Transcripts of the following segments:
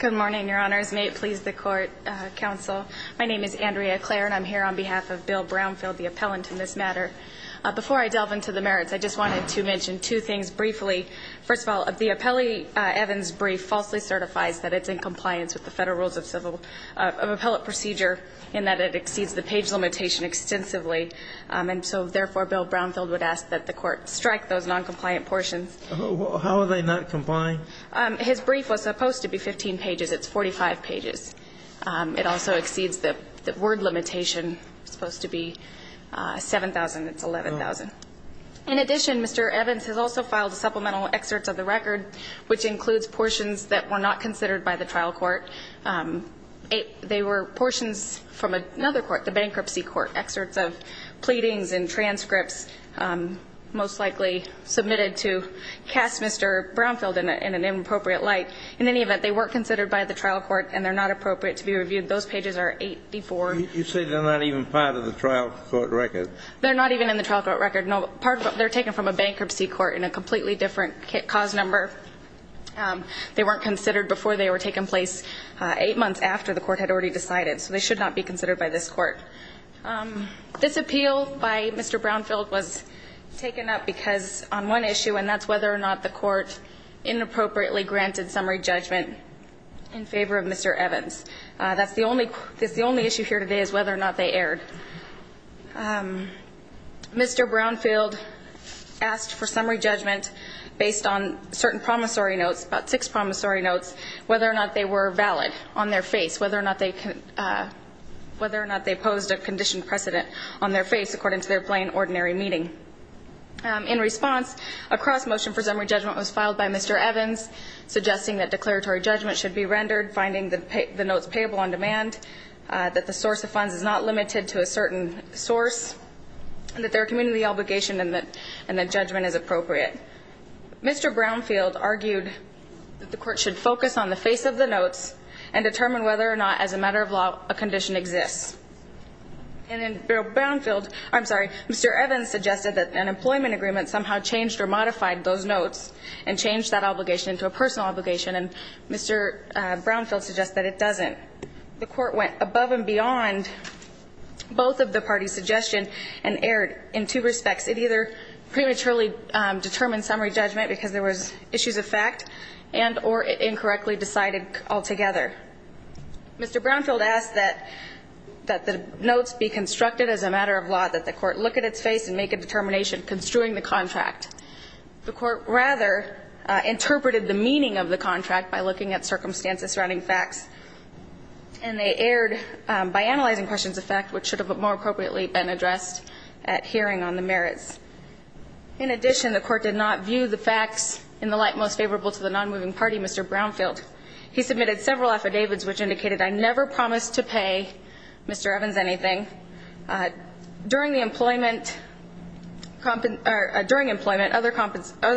Good morning, your honors. May it please the court, counsel. My name is Andrea Clare, and I'm here on behalf of Bill Brownfield, the appellant in this matter. Before I delve into the merits, I just wanted to mention two things briefly. First of all, the appellee Evans' brief falsely certifies that it's in compliance with the Federal Rules of Appellate Procedure in that it exceeds the page limitation extensively. And so, therefore, Bill Brownfield would ask that the court strike those noncompliant portions. How are they not complying? His brief was supposed to be 15 pages. It's 45 pages. It also exceeds the word limitation. It's supposed to be 7,000. It's 11,000. In addition, Mr. Evans has also filed supplemental excerpts of the record, which includes portions that were not considered by the trial court. They were portions from another court, the bankruptcy court, excerpts of pleadings and transcripts most likely submitted to cast Mr. Brownfield in an inappropriate light. In any event, they weren't considered by the trial court, and they're not appropriate to be reviewed. Those pages are 84. You say they're not even part of the trial court record. They're not even in the trial court record. They're taken from a bankruptcy court in a completely different cause number. They weren't considered before they were taken place eight months after the court had already decided. So they should not be considered by this court. This appeal by Mr. Brownfield was taken up because on one issue, and that's whether or not the court inappropriately granted summary judgment in favor of Mr. Evans. That's the only issue here today is whether or not they erred. Mr. Brownfield asked for summary judgment based on certain promissory notes, about six promissory notes, whether or not they were valid on their face, whether or not they posed a conditioned precedent on their face according to their plain, ordinary meeting. In response, a cross-motion for summary judgment was filed by Mr. Evans, suggesting that declaratory judgment should be rendered, finding the notes payable on demand, that the source of funds is not limited to a certain source, and that there are community obligation and that judgment is appropriate. Mr. Brownfield argued that the court should focus on the face of the notes and determine whether or not, as a matter of law, a condition exists. And then Mr. Evans suggested that an employment agreement somehow changed or modified those notes and changed that obligation into a personal obligation. And Mr. Brownfield suggests that it doesn't. The court went above and beyond both of the parties' suggestions and erred in two respects. It either prematurely determined summary judgment because there was issues of fact and or it incorrectly decided altogether. Mr. Brownfield asked that the notes be constructed as a matter of law, that the court look at its face and make a determination construing the contract. The court rather interpreted the meaning of the contract by looking at circumstances surrounding facts. And they erred by analyzing questions of fact, which should have more appropriately been addressed at hearing on the merits. In addition, the court did not view the facts in the light most favorable to the nonmoving party, Mr. Brownfield. He submitted several affidavits which indicated, I never promised to pay Mr. Evans anything. During employment, other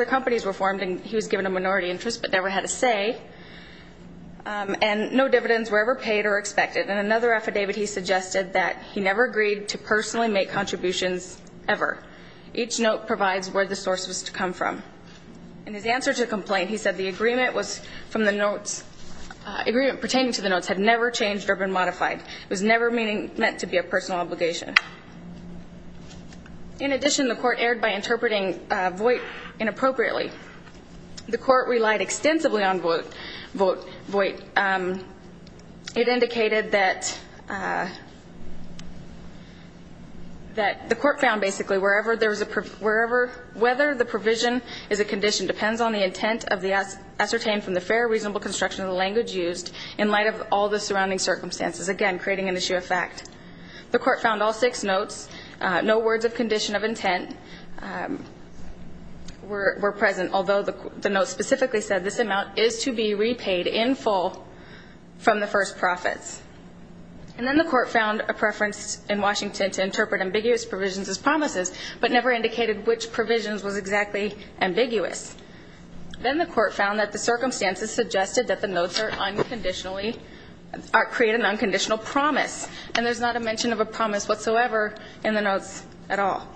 companies were formed, and he was given a minority interest but never had a say. And no dividends were ever paid or expected. In another affidavit, he suggested that he never agreed to personally make contributions ever. Each note provides where the source was to come from. In his answer to the complaint, he said the agreement pertaining to the notes had never changed or been modified. It was never meant to be a personal obligation. In addition, the court erred by interpreting Voight inappropriately. The court relied extensively on Voight. It indicated that the court found basically wherever there was a, wherever, whether the provision is a condition depends on the intent of the ascertained from the fair reasonable construction of the language used in light of all the surrounding circumstances. Again, creating an issue of fact. The court found all six notes, no words of condition of intent were present. Although the notes specifically said this amount is to be repaid in full from the first profits. And then the court found a preference in Washington to interpret ambiguous provisions as promises, but never indicated which provisions was exactly ambiguous. Then the court found that the circumstances suggested that the notes are unconditionally, create an unconditional promise. And there's not a mention of a promise whatsoever in the notes at all.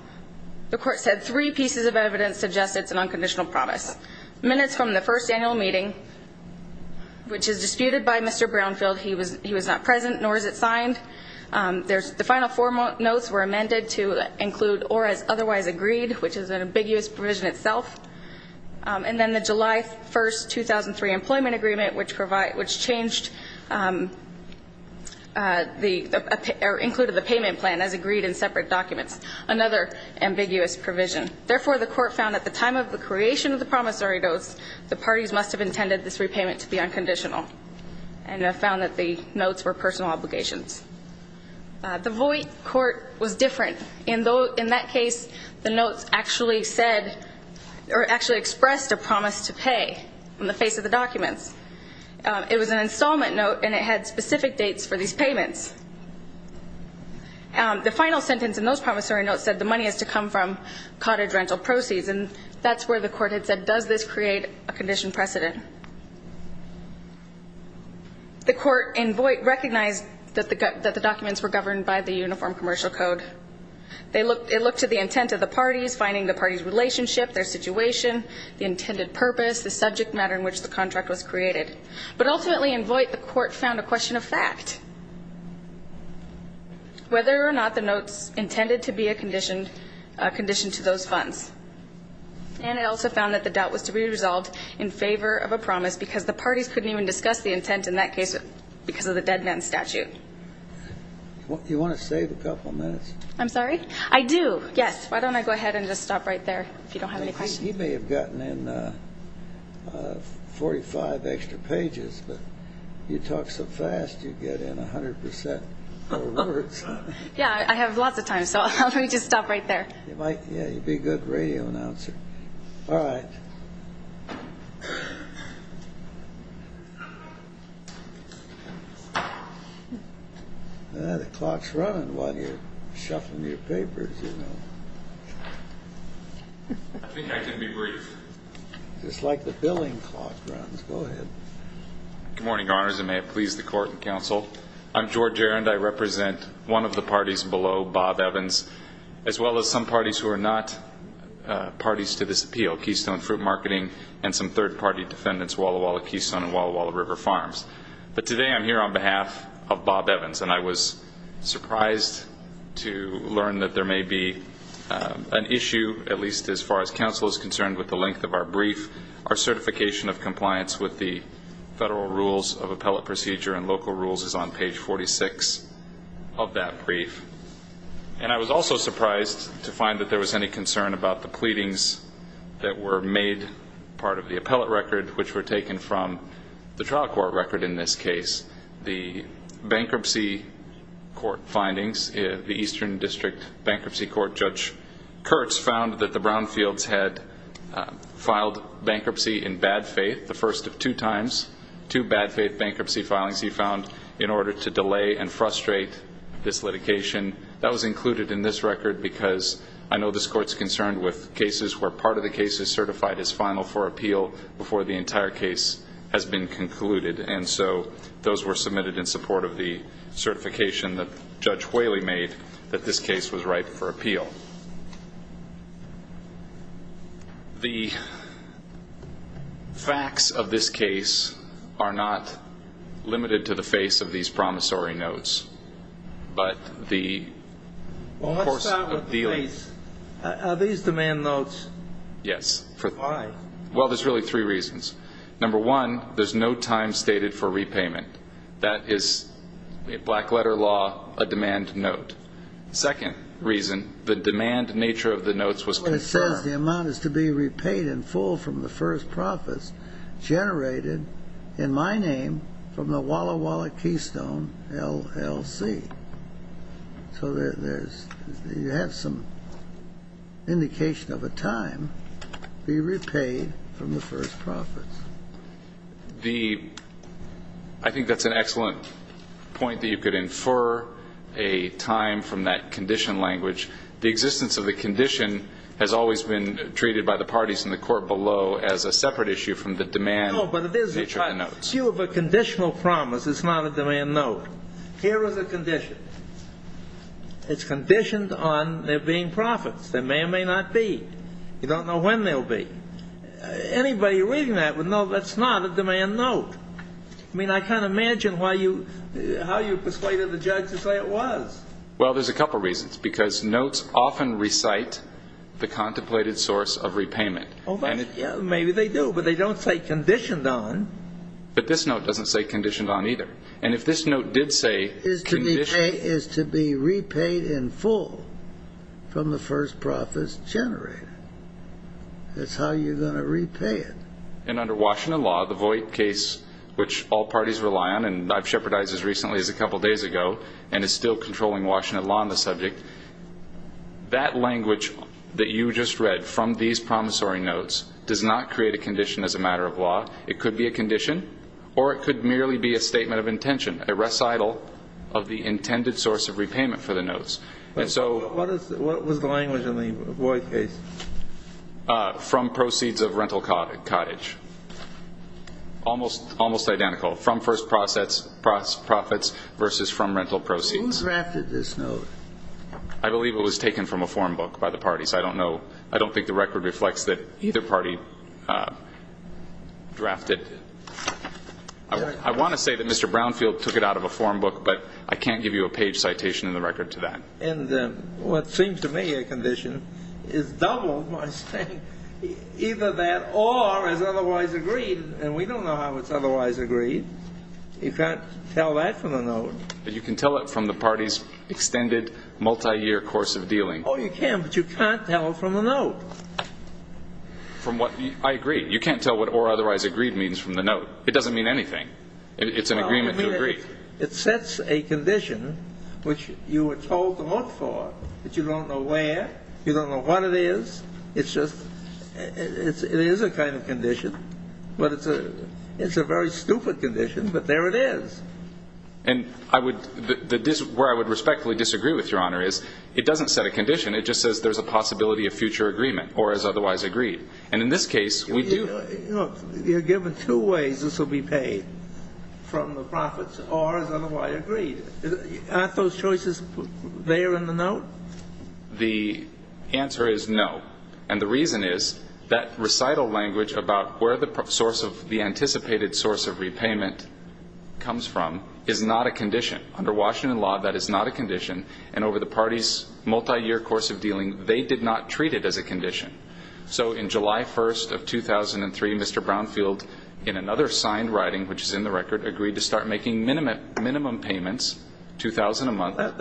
The court said three pieces of evidence suggested it's an unconditional promise. Minutes from the first annual meeting, which is disputed by Mr. Brownfield. He was not present, nor is it signed. The final four notes were amended to include or as otherwise agreed, which is an ambiguous provision itself. And then the July 1st, 2003 employment agreement, which changed the, or included the payment plan as agreed in separate documents. Another ambiguous provision. Therefore, the court found at the time of the creation of the promissory notes, the parties must have intended this repayment to be unconditional. And found that the notes were personal obligations. The Voight court was different. In that case, the notes actually said or actually expressed a promise to pay on the face of the documents. It was an installment note, and it had specific dates for these payments. The final sentence in those promissory notes said the money is to come from cottage rental proceeds. And that's where the court had said, does this create a condition precedent? The court in Voight recognized that the documents were governed by the uniform commercial code. It looked to the intent of the parties, finding the parties' relationship, their situation, the intended purpose, the subject matter in which the contract was created. But ultimately in Voight, the court found a question of fact. Whether or not the notes intended to be a condition to those funds. And it also found that the doubt was to be resolved in favor of a promise, because the parties couldn't even discuss the intent in that case because of the dead men statute. You want to save a couple minutes? I'm sorry? I do, yes. Why don't I go ahead and just stop right there if you don't have any questions. You may have gotten in 45 extra pages, but you talk so fast you get in 100% of the words. Yeah, I have lots of time, so let me just stop right there. Yeah, you'd be a good radio announcer. All right. Ah, the clock's running while you're shuffling your papers, you know. I think I can be brief. Just like the billing clock runs. Go ahead. Good morning, Your Honors, and may it please the court and counsel. I'm George Jarend. I represent one of the parties below, Bob Evans, as well as some parties who are not parties to this appeal, Keystone Fruit Marketing and some third-party defendants, Walla Walla Keystone and Walla Walla River Farms. But today I'm here on behalf of Bob Evans, and I was surprised to learn that there may be an issue, at least as far as counsel is concerned, with the length of our brief. Our certification of compliance with the federal rules of appellate procedure and local rules is on page 46 of that brief. And I was also surprised to find that there was any concern about the pleadings that were made, part of the appellate record, which were taken from the trial court record in this case. The bankruptcy court findings, the Eastern District Bankruptcy Court, Judge Kurtz found that the Brownfields had filed bankruptcy in bad faith the first of two times, two bad faith bankruptcy filings he found in order to delay and frustrate this litigation. That was included in this record because I know this Court is concerned with cases where part of the case is certified as final for appeal before the entire case has been concluded. And so those were submitted in support of the certification that Judge Whaley made that this case was right for appeal. The facts of this case are not limited to the face of these promissory notes, but the course of dealing. Well, what's that with the face? Are these demand notes? Yes. Why? Well, there's really three reasons. Number one, there's no time stated for repayment. That is, in black letter law, a demand note. Second reason, the demand nature of the notes was confirmed. It says the amount is to be repaid in full from the first profits generated in my name from the Walla Walla Keystone LLC. So you have some indication of a time to be repaid from the first profits. I think that's an excellent point, that you could infer a time from that condition language. The existence of the condition has always been treated by the parties in the Court below as a separate issue from the demand nature of the notes. No, but it is. If you have a conditional promise, it's not a demand note. Here is a condition. It's conditioned on there being profits. There may or may not be. You don't know when they'll be. Anybody reading that would know that's not a demand note. I mean, I can't imagine how you persuaded the judge to say it was. Well, there's a couple reasons, because notes often recite the contemplated source of repayment. Maybe they do, but they don't say conditioned on. But this note doesn't say conditioned on either. And if this note did say conditioned… Is to be repaid in full from the first profits generated. That's how you're going to repay it. And under Washington law, the Voight case, which all parties rely on, and I've shepherdized as recently as a couple days ago, and is still controlling Washington law on the subject, that language that you just read from these promissory notes does not create a condition as a matter of law. It could be a condition, or it could merely be a statement of intention, a recital of the intended source of repayment for the notes. What was the language in the Voight case? From proceeds of rental cottage. Almost identical. From first profits versus from rental proceeds. Who drafted this note? I believe it was taken from a form book by the parties. I don't know. I don't think the record reflects that either party drafted. I want to say that Mr. Brownfield took it out of a form book, but I can't give you a page citation in the record to that. And what seems to me a condition is doubled by saying either that or as otherwise agreed, and we don't know how it's otherwise agreed. You can't tell that from the note. But you can tell it from the party's extended multi-year course of dealing. Oh, you can, but you can't tell it from the note. I agree. You can't tell what or otherwise agreed means from the note. It doesn't mean anything. It's an agreement to agree. It sets a condition, which you were told to look for, but you don't know where, you don't know what it is. It's just it is a kind of condition, but it's a very stupid condition, but there it is. And where I would respectfully disagree with, Your Honor, is it doesn't set a condition. It just says there's a possibility of future agreement or as otherwise agreed. And in this case, we do. Look, you're given two ways this will be paid from the profits or as otherwise agreed. Aren't those choices there in the note? The answer is no. And the reason is that recital language about where the source of the anticipated source of repayment comes from is not a condition. Under Washington law, that is not a condition. And over the party's multiyear course of dealing, they did not treat it as a condition. So in July 1st of 2003, Mr. Brownfield, in another signed writing, which is in the record, agreed to start making minimum payments, $2,000 a month. That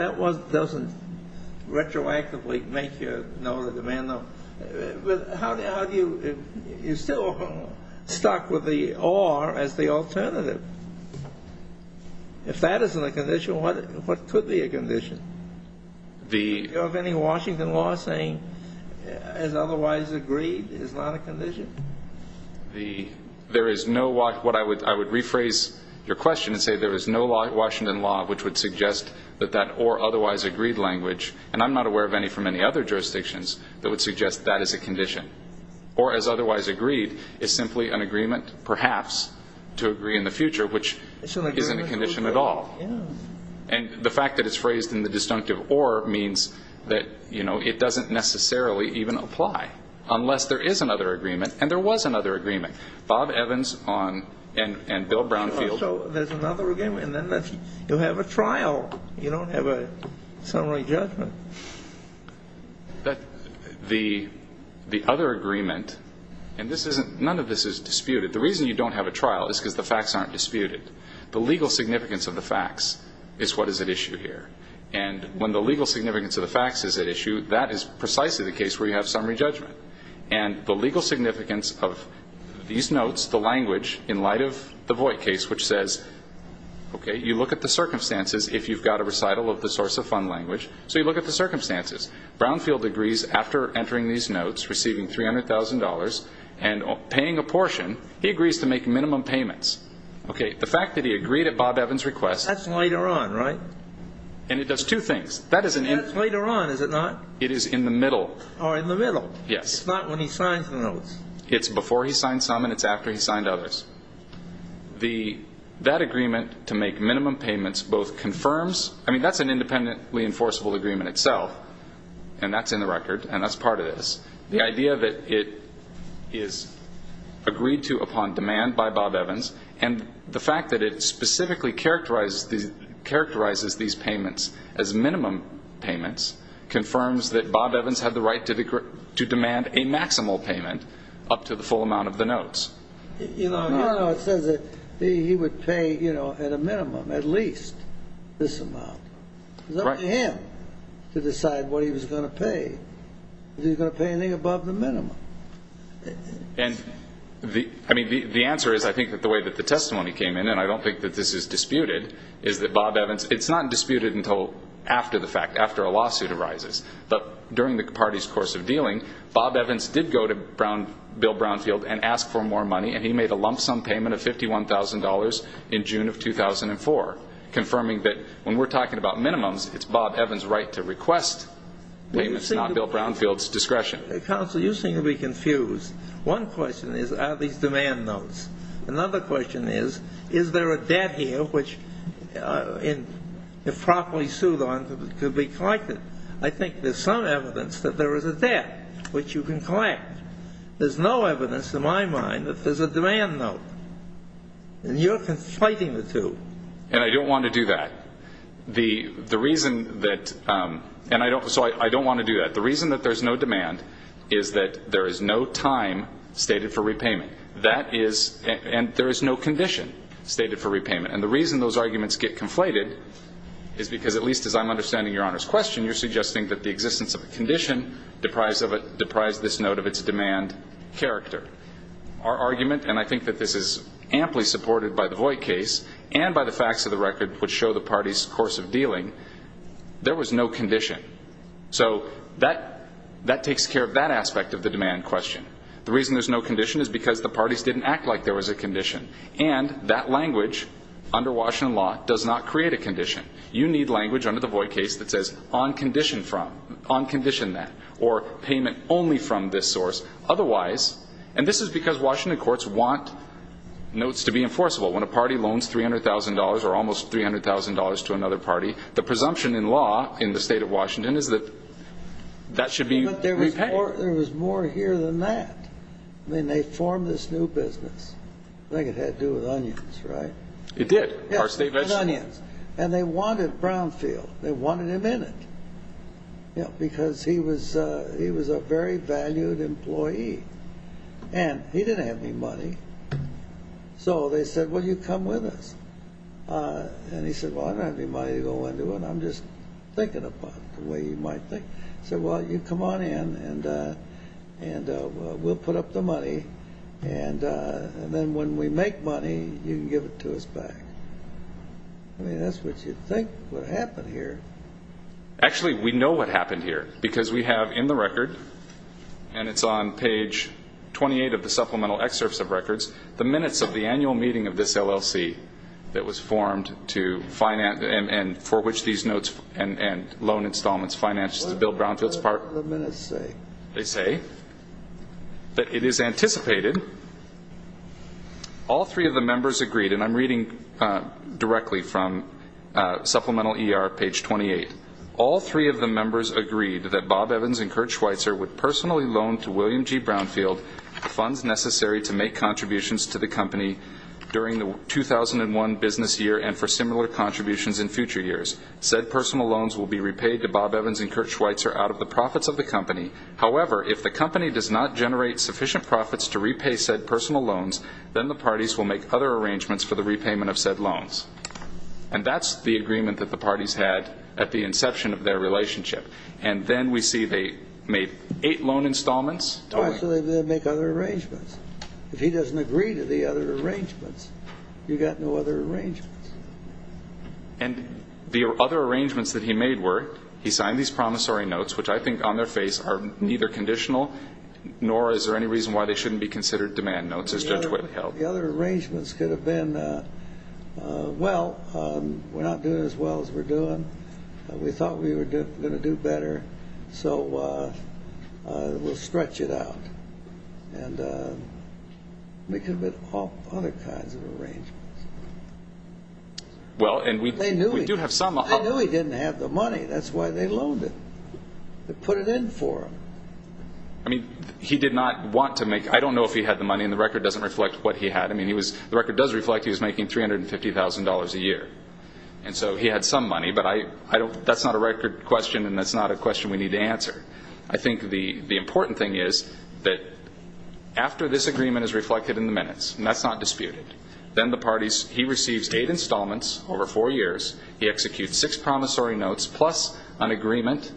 doesn't retroactively make you know the demand, though. How do you still start with the or as the alternative? If that isn't a condition, what could be a condition? Do you have any Washington law saying as otherwise agreed is not a condition? There is no law. I would rephrase your question and say there is no Washington law which would suggest that that or otherwise agreed language, and I'm not aware of any from any other jurisdictions that would suggest that is a condition. Or as otherwise agreed is simply an agreement perhaps to agree in the future, which isn't a condition at all. And the fact that it's phrased in the disjunctive or means that, you know, it doesn't necessarily even apply unless there is another agreement. And there was another agreement. Bob Evans and Bill Brownfield. There's another agreement, and then you have a trial. You don't have a summary judgment. The other agreement, and none of this is disputed. The reason you don't have a trial is because the facts aren't disputed. The legal significance of the facts is what is at issue here. And when the legal significance of the facts is at issue, that is precisely the case where you have summary judgment. And the legal significance of these notes, the language in light of the Voight case, which says, okay, you look at the circumstances if you've got a recital of the source of fund language. So you look at the circumstances. Brownfield agrees after entering these notes, receiving $300,000 and paying a portion. He agrees to make minimum payments. Okay. The fact that he agreed at Bob Evans' request. That's later on, right? And it does two things. That is an end. That's later on, is it not? It is in the middle. Or in the middle. Yes. It's not when he signs the notes. It's before he signs some, and it's after he signed others. That agreement to make minimum payments both confirms, I mean, that's an independently enforceable agreement itself. And that's in the record. And that's part of this. The idea that it is agreed to upon demand by Bob Evans and the fact that it specifically characterizes these payments as minimum payments confirms that Bob Evans had the right to demand a maximal payment up to the full amount of the notes. You don't know. It says that he would pay, you know, at a minimum at least this amount. Right. It was up to him to decide what he was going to pay. Was he going to pay anything above the minimum? And the answer is, I think, that the way that the testimony came in, and I don't think that this is disputed, is that Bob Evans — it's not disputed until after the fact, after a lawsuit arises. But during the party's course of dealing, Bob Evans did go to Bill Brownfield and ask for more money, and he made a lump sum payment of $51,000 in June of 2004, confirming that when we're talking about minimums, it's Bob Evans' right to request payments, not Bill Brownfield's discretion. Counsel, you seem to be confused. One question is, are these demand notes? Another question is, is there a debt here which, if properly sued on, could be collected? I think there's some evidence that there is a debt which you can collect. There's no evidence in my mind that there's a demand note. And you're conflating the two. And I don't want to do that. The reason that — and I don't — so I don't want to do that. The reason that there's no demand is that there is no time stated for repayment. That is — and there is no condition stated for repayment. And the reason those arguments get conflated is because, at least as I'm understanding Your Honor's question, you're suggesting that the existence of a condition deprived this note of its demand character. Our argument, and I think that this is amply supported by the Voight case and by the facts of the record which show the parties' course of dealing, there was no condition. So that takes care of that aspect of the demand question. The reason there's no condition is because the parties didn't act like there was a condition. And that language under Washington law does not create a condition. You need language under the Voight case that says on condition from, on condition that, or payment only from this source. Otherwise — and this is because Washington courts want notes to be enforceable. When a party loans $300,000 or almost $300,000 to another party, the presumption in law in the State of Washington is that that should be repaid. But there was more here than that when they formed this new business. I think it had to do with onions, right? It did. Yes, with onions. And they wanted Brownfield. They wanted him in it because he was a very valued employee. And he didn't have any money. So they said, well, you come with us. And he said, well, I don't have any money to go into it. I'm just thinking about it the way you might think. He said, well, you come on in and we'll put up the money. And then when we make money, you can give it to us back. I mean, that's what you'd think would happen here. Actually, we know what happened here because we have in the record, and it's on page 28 of the supplemental excerpts of records, the minutes of the annual meeting of this LLC that was formed to finance and for which these notes and loan installments financed Bill Brownfield's part. What did the minutes say? They say that it is anticipated all three of the members agreed, and I'm reading directly from supplemental ER page 28, all three of the members agreed that Bob Evans and Kurt Schweitzer would personally loan to William G. Brownfield funds necessary to make contributions to the company during the 2001 business year and for similar contributions in future years. Said personal loans will be repaid to Bob Evans and Kurt Schweitzer out of the profits of the company. However, if the company does not generate sufficient profits to repay said personal loans, then the parties will make other arrangements for the repayment of said loans. And that's the agreement that the parties had at the inception of their relationship. And then we see they made eight loan installments. So they make other arrangements. If he doesn't agree to the other arrangements, you've got no other arrangements. And the other arrangements that he made were he signed these promissory notes, which I think on their face are neither conditional nor is there any reason why they shouldn't be considered demand notes, as Judge Whitt held. The other arrangements could have been, well, we're not doing as well as we're doing. We thought we were going to do better, so we'll stretch it out. And it could have been all other kinds of arrangements. Well, and we do have some. They knew he didn't have the money. That's why they loaned it. They put it in for him. I mean, he did not want to make, I don't know if he had the money, and the record doesn't reflect what he had. I mean, the record does reflect he was making $350,000 a year. And so he had some money, but that's not a record question, and that's not a question we need to answer. I think the important thing is that after this agreement is reflected in the minutes, and that's not disputed, then the parties, he receives eight installments over four years. He executes six promissory notes, plus an agreement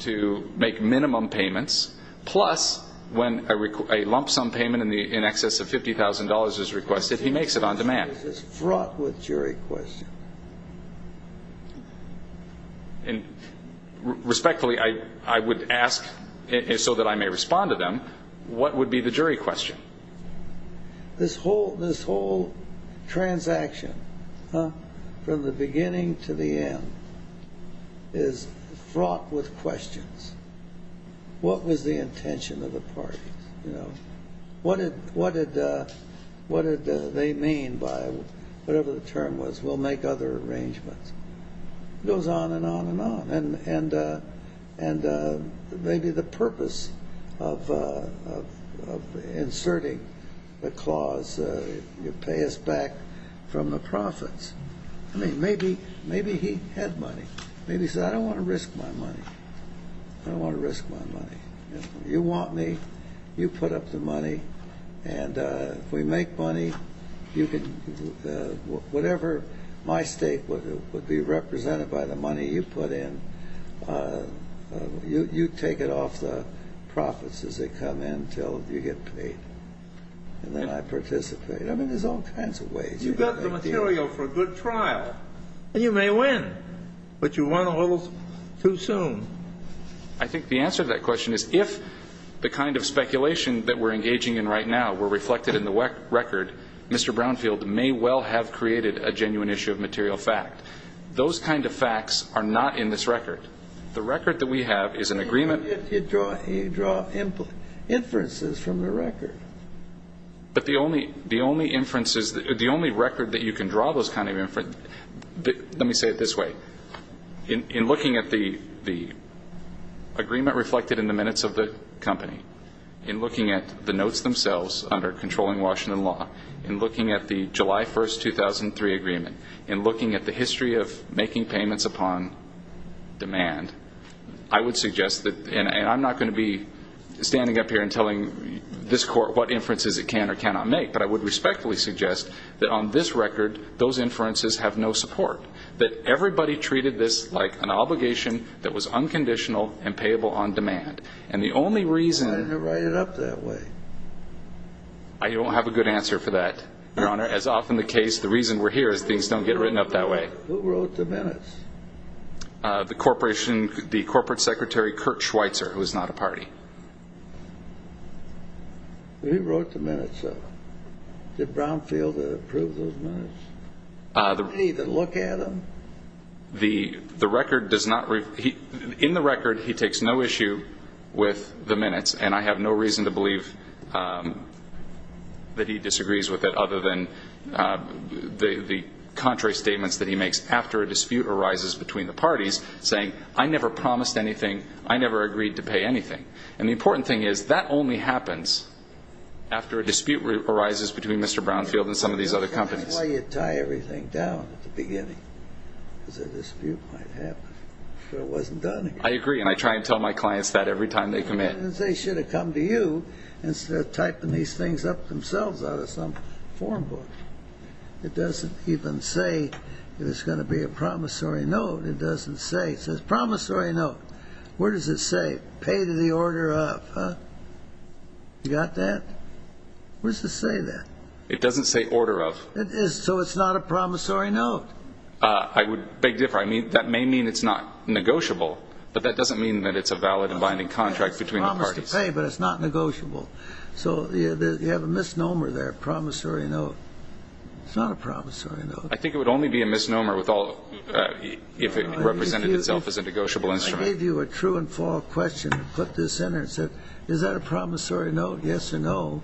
to make minimum payments, plus when a lump sum payment in excess of $50,000 is requested, he makes it on demand. Is this fraught with jury questions? And respectfully, I would ask, so that I may respond to them, what would be the jury question? This whole transaction from the beginning to the end is fraught with questions. What was the intention of the parties? What did they mean by whatever the term was, we'll make other arrangements? It goes on and on and on. And maybe the purpose of inserting the clause, you pay us back from the profits. I mean, maybe he had money. Maybe he said, I don't want to risk my money. I don't want to risk my money. You want me, you put up the money, and if we make money, whatever my stake would be represented by the money you put in, you take it off the profits as they come in until you get paid, and then I participate. I mean, there's all kinds of ways. You got the material for a good trial, and you may win, but you won a little too soon. I think the answer to that question is if the kind of speculation that we're engaging in right now were reflected in the record, Mr. Brownfield may well have created a genuine issue of material fact. Those kind of facts are not in this record. The record that we have is an agreement. You draw inferences from the record. But the only inferences, the only record that you can draw those kind of inferences Let me say it this way. In looking at the agreement reflected in the minutes of the company, in looking at the notes themselves under controlling Washington law, in looking at the July 1, 2003 agreement, in looking at the history of making payments upon demand, I would suggest that, and I'm not going to be standing up here and telling this court what inferences it can or cannot make, but I would respectfully suggest that on this record, those inferences have no support, that everybody treated this like an obligation that was unconditional and payable on demand. And the only reason Why didn't you write it up that way? I don't have a good answer for that, Your Honor. As often the case, the reason we're here is things don't get written up that way. Who wrote the minutes? The corporation, the corporate secretary, Kurt Schweitzer, who is not a party. He wrote the minutes up. Did Brownfield approve those minutes? I didn't even look at them. The record does not, in the record, he takes no issue with the minutes, and I have no reason to believe that he disagrees with it other than the contrary statements that he makes after a dispute arises between the parties, saying, I never promised anything, I never agreed to pay anything. And the important thing is that only happens after a dispute arises between Mr. Brownfield and some of these other companies. That's why you tie everything down at the beginning, because a dispute might happen if it wasn't done. I agree, and I try and tell my clients that every time they commit. They should have come to you instead of typing these things up themselves out of some form book. It doesn't even say that it's going to be a promissory note. It doesn't say. It says promissory note. Where does it say? Pay to the order of, huh? You got that? Where does it say that? It doesn't say order of. So it's not a promissory note. I would beg to differ. That may mean it's not negotiable, but that doesn't mean that it's a valid and binding contract between the parties. It's promised to pay, but it's not negotiable. So you have a misnomer there, promissory note. It's not a promissory note. I think it would only be a misnomer if it represented itself as a negotiable instrument. I gave you a true and false question and put this in there and said, is that a promissory note, yes or no?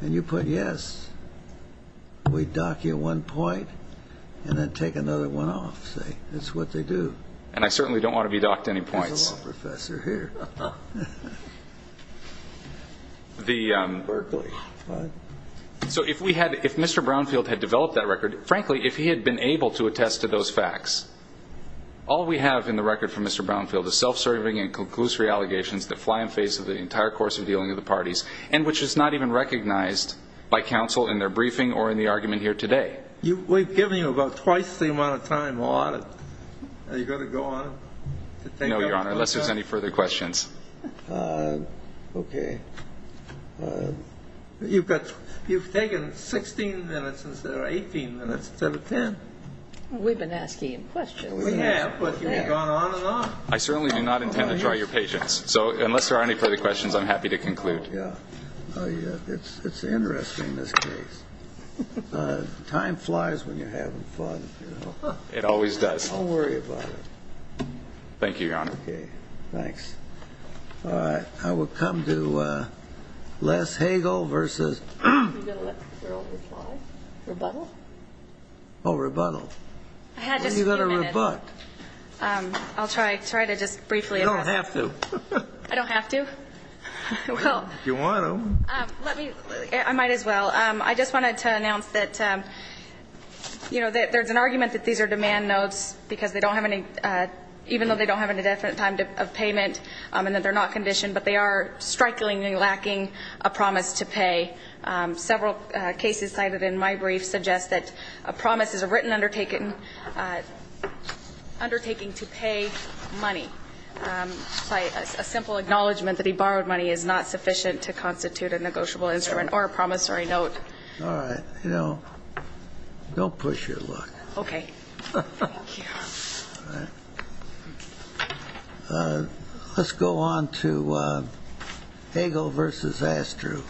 And you put yes. We dock you one point and then take another one off. That's what they do. And I certainly don't want to be docked any points. There's a law professor here. Berkeley. So if Mr. Brownfield had developed that record, frankly, if he had been able to attest to those facts, all we have in the record from Mr. Brownfield is self-serving and conclusive allegations that fly in the face of the entire course of dealing with the parties and which is not even recognized by counsel in their briefing or in the argument here today. We've given you about twice the amount of time, Your Honor. Are you going to go on? No, Your Honor, unless there's any further questions. Okay. You've taken 16 minutes instead of 18 minutes instead of 10. We've been asking questions. We have, but you've gone on and on. I certainly do not intend to try your patience. So unless there are any further questions, I'm happy to conclude. Oh, yeah. It's interesting, this case. Time flies when you're having fun. It always does. Don't worry about it. Thank you, Your Honor. Okay. Thanks. All right. I will come to Les Hagel versus. Are you going to let the girl reply? Rebuttal? Oh, rebuttal. I had just a few minutes. You've got to rebut. I'll try to just briefly address. You don't have to. I don't have to? Well. If you want to. Let me. I might as well. I just wanted to announce that, you know, there's an argument that these are demand notes because they don't have any, even though they don't have any definite time of payment and that they're not conditioned, but they are strikingly lacking a promise to pay. Several cases cited in my brief suggest that a promise is a written undertaking to pay money. A simple acknowledgment that he borrowed money is not sufficient to constitute a negotiable instrument or a promissory note. All right. You know, don't push your luck. Okay. Thank you. All right. Let's go on to Hagel versus Astru.